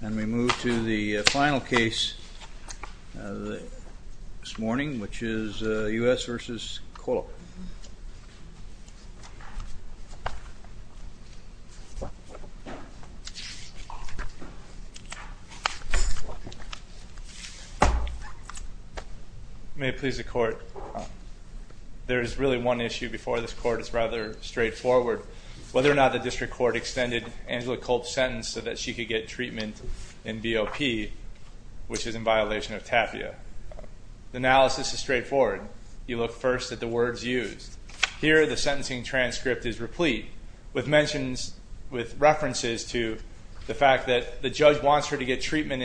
And we move to the final case this morning, which is U.S. v. Kohler. May it please the court, there is really one issue before this court, it's rather straightforward. Whether or not the district court extended Angela Kolp's sentence so that she could get treatment in BOP, which is in violation of TAPIA. The analysis is straightforward. You look first at the words used. Here the sentencing transcript is replete with mentions, with references to the fact that the judge wants her to get treatment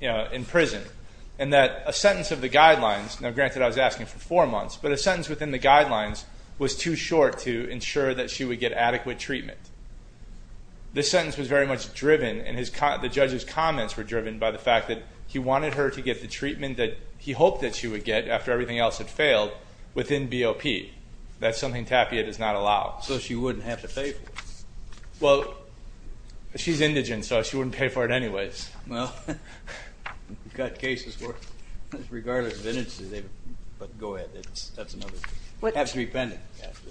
in prison. And that a sentence of the guidelines, now granted I was asking for four months, but a sentence within the guidelines was too short to ensure that she would get adequate treatment. This sentence was very much driven, and the judge's comments were driven by the fact that he wanted her to get the treatment that he hoped that she would get after everything else had failed within BOP. That's something TAPIA does not allow. So she wouldn't have to pay for it. Well, she's indigent, so she wouldn't pay for it anyways. Well, we've got cases where regardless of indigency, but go ahead, that's another thing. It has to be pending,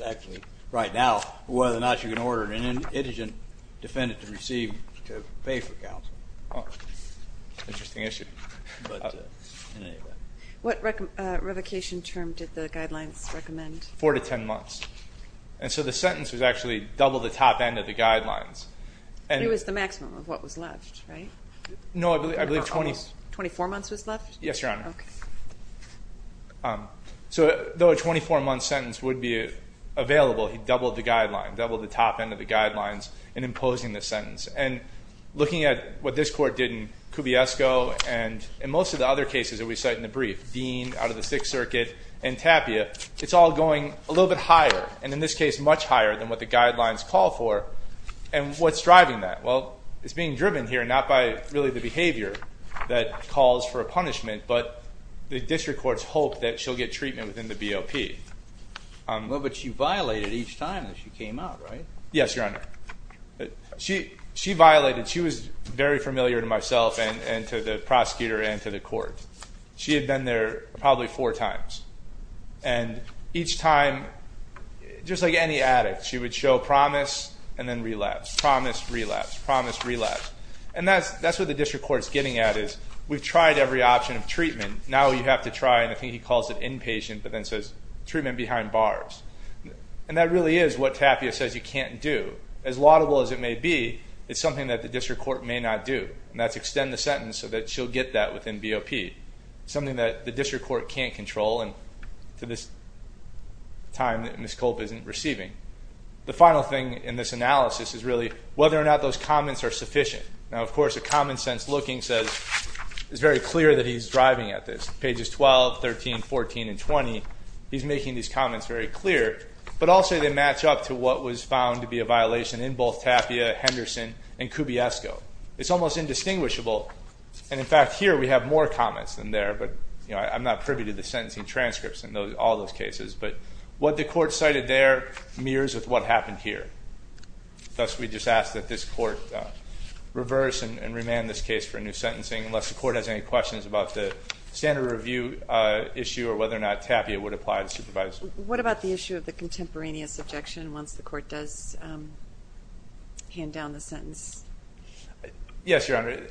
actually, right now, whether or not you can order an indigent defendant to receive, to pay for counseling. Oh, interesting issue. What revocation term did the guidelines recommend? Four to ten months. And so the sentence was actually double the top end of the guidelines. It was the maximum of what was left, right? No, I believe 24 months was left? Yes, Your Honor. Okay. So though a 24-month sentence would be available, he doubled the guideline, doubled the top end of the guidelines in imposing the sentence. And looking at what this Court did in Cubiesco and in most of the other cases that we cite in the brief, Dean, out of the Sixth Circuit, and TAPIA, it's all going a little bit higher, and in this case, much higher than what the guidelines call for. And what's driving that? Well, it's being driven here not by really the behavior that calls for a punishment, but the district court's hope that she'll get treatment within the BOP. Well, but she violated each time that she came out, right? Yes, Your Honor. She violated. She was very familiar to myself and to the prosecutor and to the court. She had been there probably four times. And each time, just like any addict, she would show promise and then relapse, promise, relapse, promise, relapse. And that's what the district court's getting at is we've tried every option of treatment. Now you have to try, and I think he calls it inpatient, but then says treatment behind bars. And that really is what TAPIA says you can't do. As laudable as it may be, it's something that the district court may not do. And that's extend the sentence so that she'll get that within BOP. Something that the district court can't control and to this time that Ms. Culp isn't receiving. The final thing in this analysis is really whether or not those comments are sufficient. Now, of course, a common sense looking says it's very clear that he's driving at this. Pages 12, 13, 14, and 20, he's making these comments very clear. But also they match up to what was found to be a violation in both TAPIA, Henderson, and Cubiesco. It's almost indistinguishable. And, in fact, here we have more comments than there. But I'm not privy to the sentencing transcripts in all those cases. But what the court cited there mirrors with what happened here. Thus, we just ask that this court reverse and remand this case for a new sentencing unless the court has any questions about the standard review issue or whether or not TAPIA would apply to supervise. What about the issue of the contemporaneous objection once the court does hand down the sentence? Yes, Your Honor.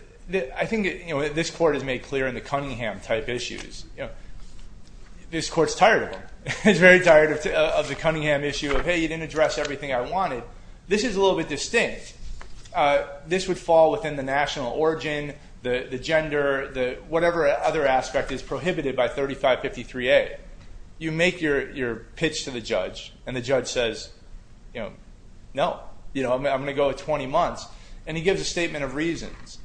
I think this court has made clear in the Cunningham-type issues. This court's tired of them. It's very tired of the Cunningham issue of, hey, you didn't address everything I wanted. This is a little bit distinct. This would fall within the national origin, the gender, whatever other aspect is prohibited by 3553A. You make your pitch to the judge, and the judge says, you know, no. I'm going to go with 20 months. And he gives a statement of reasons.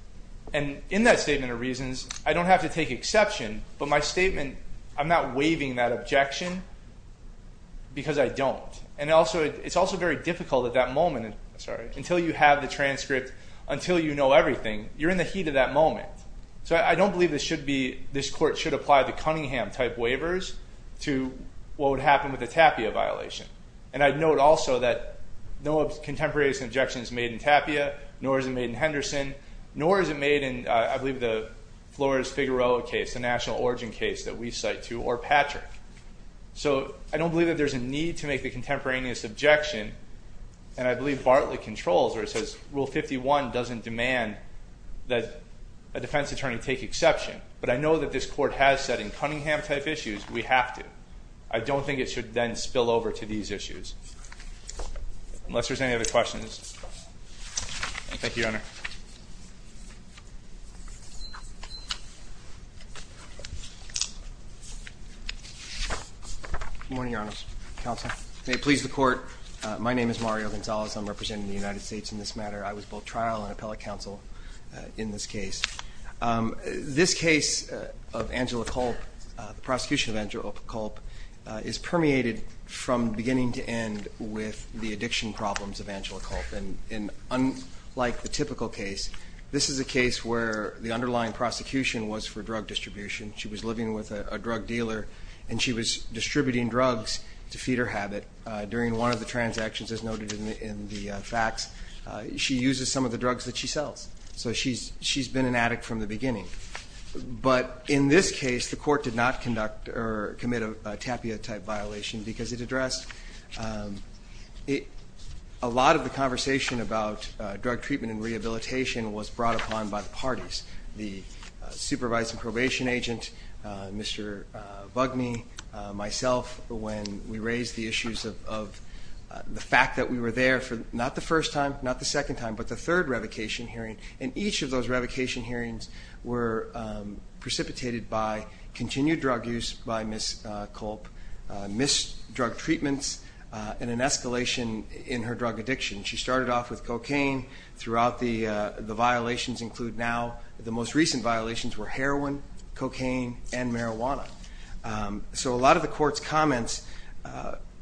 And in that statement of reasons, I don't have to take exception, but my statement, I'm not waiving that objection because I don't. And it's also very difficult at that moment until you have the transcript, until you know everything. You're in the heat of that moment. So I don't believe this court should apply the Cunningham-type waivers to what would happen with the Tapia violation. And I'd note also that no contemporaneous objection is made in Tapia, nor is it made in Henderson, nor is it made in, I believe, the Flores-Figueroa case, the national origin case that we cite to, or Patrick. So I don't believe that there's a need to make the contemporaneous objection. And I believe Bartlett controls, or it says Rule 51 doesn't demand that a defense attorney take exception. But I know that this court has said in Cunningham-type issues, we have to. I don't think it should then spill over to these issues. Unless there's any other questions. Thank you, Your Honor. Good morning, Your Honor. Counsel. May it please the Court, my name is Mario Gonzalez. I'm representing the United States in this matter. I was both trial and appellate counsel in this case. This case of Angela Culp, the prosecution of Angela Culp, is permeated from beginning to end with the addiction problems of Angela Culp. And unlike the typical case, this is a case where the underlying prosecution was for drug distribution. She was living with a drug dealer, and she was distributing drugs to feed her habit. During one of the transactions, as noted in the facts, she uses some of the drugs that she sells. So she's been an addict from the beginning. But in this case, the court did not conduct or commit a tapia-type violation because it addressed a lot of the conversation about drug treatment and rehabilitation was brought upon by the parties. The supervising probation agent, Mr. Bugney, myself, when we raised the issues of the fact that we were there for not the first time, not the second time, but the third revocation hearing. And each of those revocation hearings were precipitated by continued drug use by Ms. Culp, missed drug treatments, and an escalation in her drug addiction. She started off with cocaine. Throughout the violations include now the most recent violations were heroin, cocaine, and marijuana. So a lot of the court's comments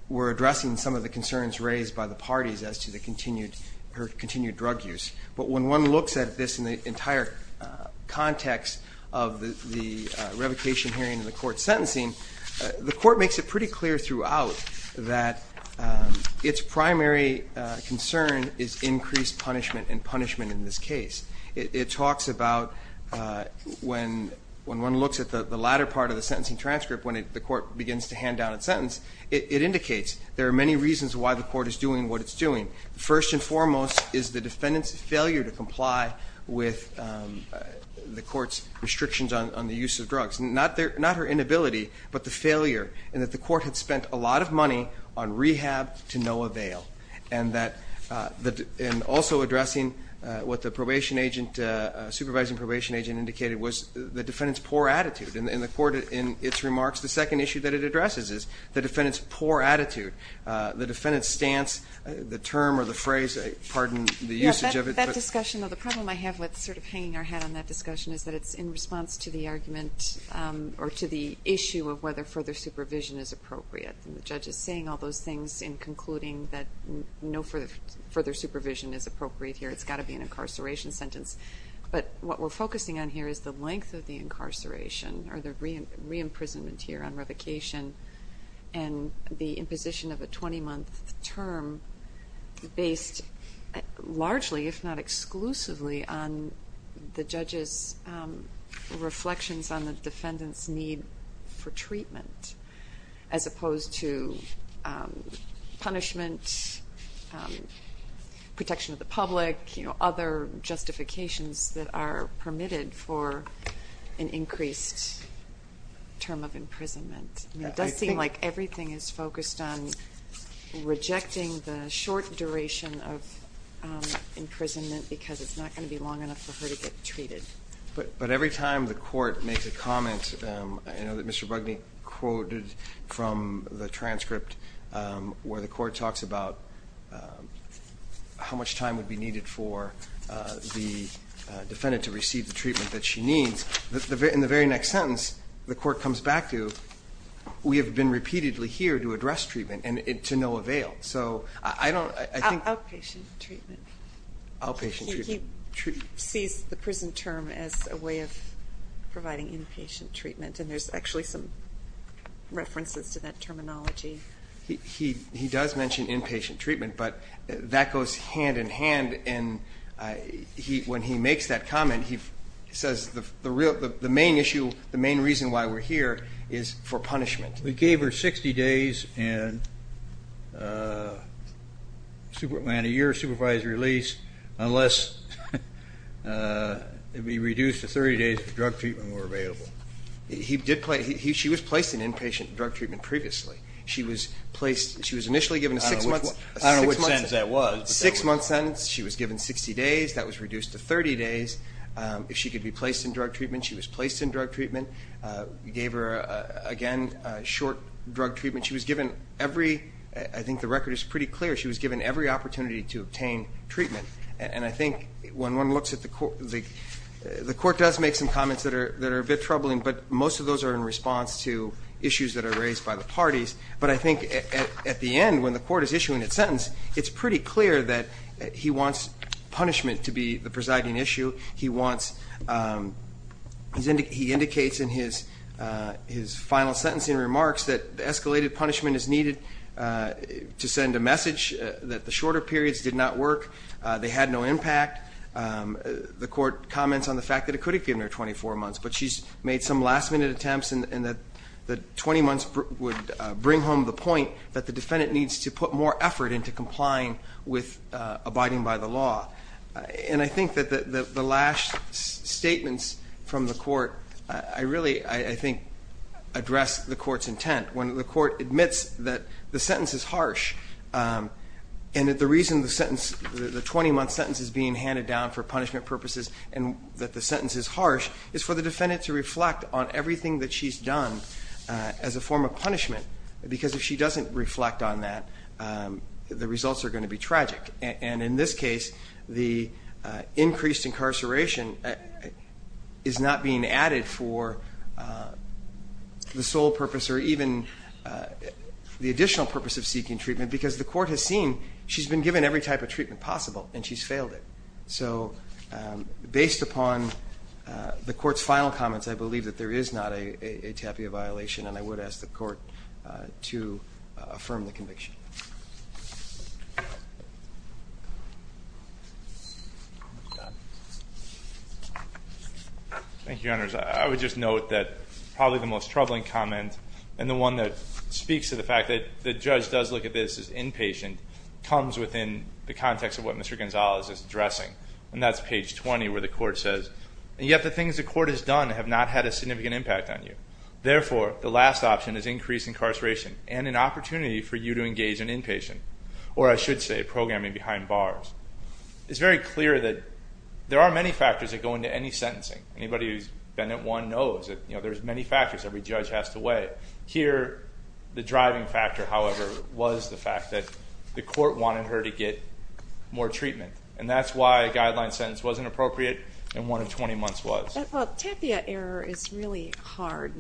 were addressing some of the concerns raised by the parties as to her continued drug use. But when one looks at this in the entire context of the revocation hearing and the court sentencing, the court makes it pretty clear throughout that its primary concern is increased punishment and punishment in this case. It talks about when one looks at the latter part of the sentencing transcript, when the court begins to hand down its sentence, it indicates there are many reasons why the court is doing what it's doing. First and foremost is the defendant's failure to comply with the court's restrictions on the use of drugs. Not her inability, but the failure in that the court had spent a lot of money on rehab to no avail. And also addressing what the supervising probation agent indicated was the defendant's poor attitude. And the court in its remarks, the second issue that it addresses is the defendant's poor attitude. The defendant's stance, the term or the phrase, pardon the usage of it. That discussion, or the problem I have with sort of hanging our hat on that discussion is that it's in response to the argument or to the issue of whether further supervision is appropriate. And the judge is saying all those things in concluding that no further supervision is appropriate here. It's got to be an incarceration sentence. But what we're focusing on here is the length of the incarceration or the re-imprisonment here on revocation. And the imposition of a 20-month term based largely, if not exclusively, on the judge's reflections on the defendant's need for treatment. As opposed to punishment, protection of the public, other justifications that are permitted for an increased term of imprisonment. It does seem like everything is focused on rejecting the short duration of imprisonment because it's not going to be long enough for her to get treated. But every time the court makes a comment, I know that Mr. Bugney quoted from the transcript where the court talks about how much time would be needed for the defendant to receive the treatment that she needs. In the very next sentence, the court comes back to, we have been repeatedly here to address treatment and to no avail. So I don't, I think- Outpatient treatment. Outpatient treatment. He sees the prison term as a way of providing inpatient treatment. And there's actually some references to that terminology. He does mention inpatient treatment, but that goes hand in hand. And when he makes that comment, he says the main issue, the main reason why we're here is for punishment. We gave her 60 days and a year of supervised release unless it would be reduced to 30 days for drug treatment were available. She was placed in inpatient drug treatment previously. She was initially given a six-month sentence. I don't know which sentence that was. Six-month sentence. She was given 60 days. That was reduced to 30 days. If she could be placed in drug treatment, she was placed in drug treatment. We gave her, again, short drug treatment. She was given every, I think the record is pretty clear, she was given every opportunity to obtain treatment. And I think when one looks at the court, the court does make some comments that are a bit troubling. But most of those are in response to issues that are raised by the parties. But I think at the end, when the court is issuing its sentence, it's pretty clear that he wants punishment to be the presiding issue. He wants, he indicates in his final sentencing remarks that escalated punishment is needed to send a message that the shorter periods did not work. They had no impact. The court comments on the fact that it could have given her 24 months. But she's made some last-minute attempts and that 20 months would bring home the point that the defendant needs to put more effort into complying with abiding by the law. And I think that the last statements from the court, I really, I think, address the court's intent. When the court admits that the sentence is harsh and that the reason the sentence, the 20-month sentence is being handed down for punishment purposes and that the sentence is harsh is for the defendant to reflect on everything that she's done as a form of punishment. Because if she doesn't reflect on that, the results are going to be tragic. And in this case, the increased incarceration is not being added for the sole purpose or even the additional purpose of seeking treatment because the court has seen she's been given every type of treatment possible and she's failed it. So based upon the court's final comments, I believe that there is not a TAPIA violation and I would ask the court to affirm the conviction. Thank you, Your Honors. I would just note that probably the most troubling comment and the one that speaks to the fact that the judge does look at this as inpatient comes within the context of what Mr. Gonzales is addressing. And that's page 20 where the court says, And yet the things the court has done have not had a significant impact on you. Therefore, the last option is increased incarceration and an opportunity for you to engage an inpatient. Or I should say, programming behind bars. It's very clear that there are many factors that go into any sentencing. Anybody who's been at one knows that there's many factors every judge has to weigh. But here, the driving factor, however, was the fact that the court wanted her to get more treatment. And that's why a guideline sentence wasn't appropriate and one of 20 months was. Well, TAPIA error is really hard,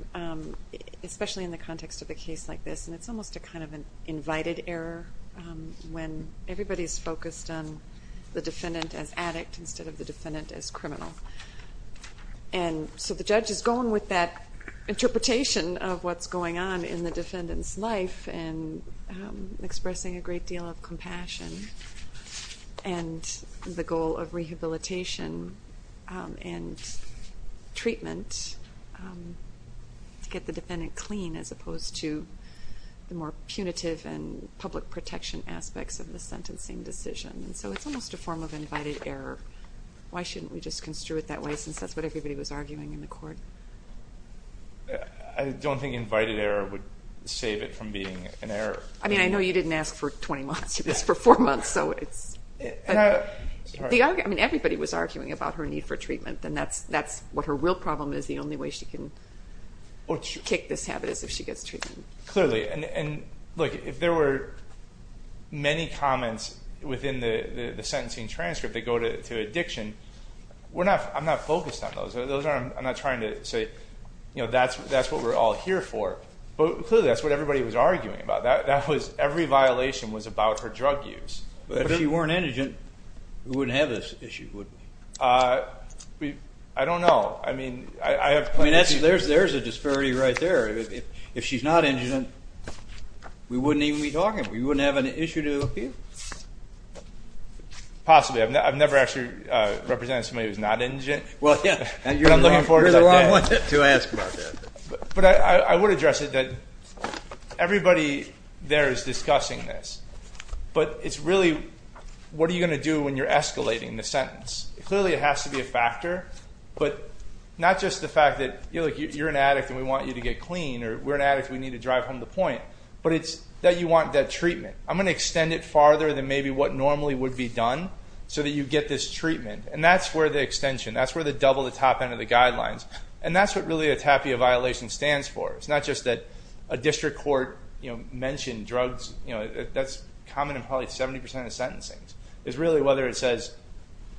especially in the context of a case like this. And it's almost a kind of an invited error when everybody's focused on the defendant as addict instead of the defendant as criminal. And so the judge is going with that interpretation of what's going on in the defendant's life and expressing a great deal of compassion. And the goal of rehabilitation and treatment to get the defendant clean as opposed to the more punitive and public protection aspects of the sentencing decision. So it's almost a form of invited error. Why shouldn't we just construe it that way since that's what everybody was arguing in the court? I don't think invited error would save it from being an error. I mean, I know you didn't ask for 20 months. You asked for four months. I mean, everybody was arguing about her need for treatment. And that's what her real problem is. The only way she can kick this habit is if she gets treatment. Clearly. And, look, if there were many comments within the sentencing transcript that go to addiction, I'm not focused on those. I'm not trying to say, you know, that's what we're all here for. But clearly that's what everybody was arguing about. That was every violation was about her drug use. But if she weren't indigent, we wouldn't have this issue, would we? I don't know. I mean, I have plenty of cases. There's a disparity right there. If she's not indigent, we wouldn't even be talking. We wouldn't have an issue to appeal. Possibly. I've never actually represented somebody who's not indigent. Well, yeah. You're the wrong one to ask about that. But I would address it that everybody there is discussing this. But it's really what are you going to do when you're escalating the sentence. Clearly it has to be a factor. But not just the fact that, you know, you're an addict and we want you to get clean, or we're an addict and we need to drive home the point. But it's that you want that treatment. I'm going to extend it farther than maybe what normally would be done so that you get this treatment. And that's where the extension, that's where the double the top end of the guidelines. And that's what really a TAPIA violation stands for. It's not just that a district court, you know, mentioned drugs. That's common in probably 70% of sentencing. It's really whether it says,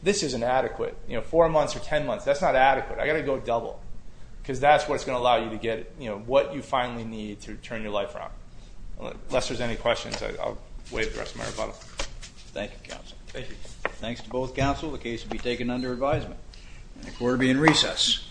this is inadequate. You know, four months or ten months. That's not adequate. I've got to go double. Because that's what's going to allow you to get what you finally need to turn your life around. Unless there's any questions, I'll waive the rest of my rebuttal. Thank you, counsel. Thank you. Thanks to both counsel. The case will be taken under advisement. The court will be in recess. Thank you.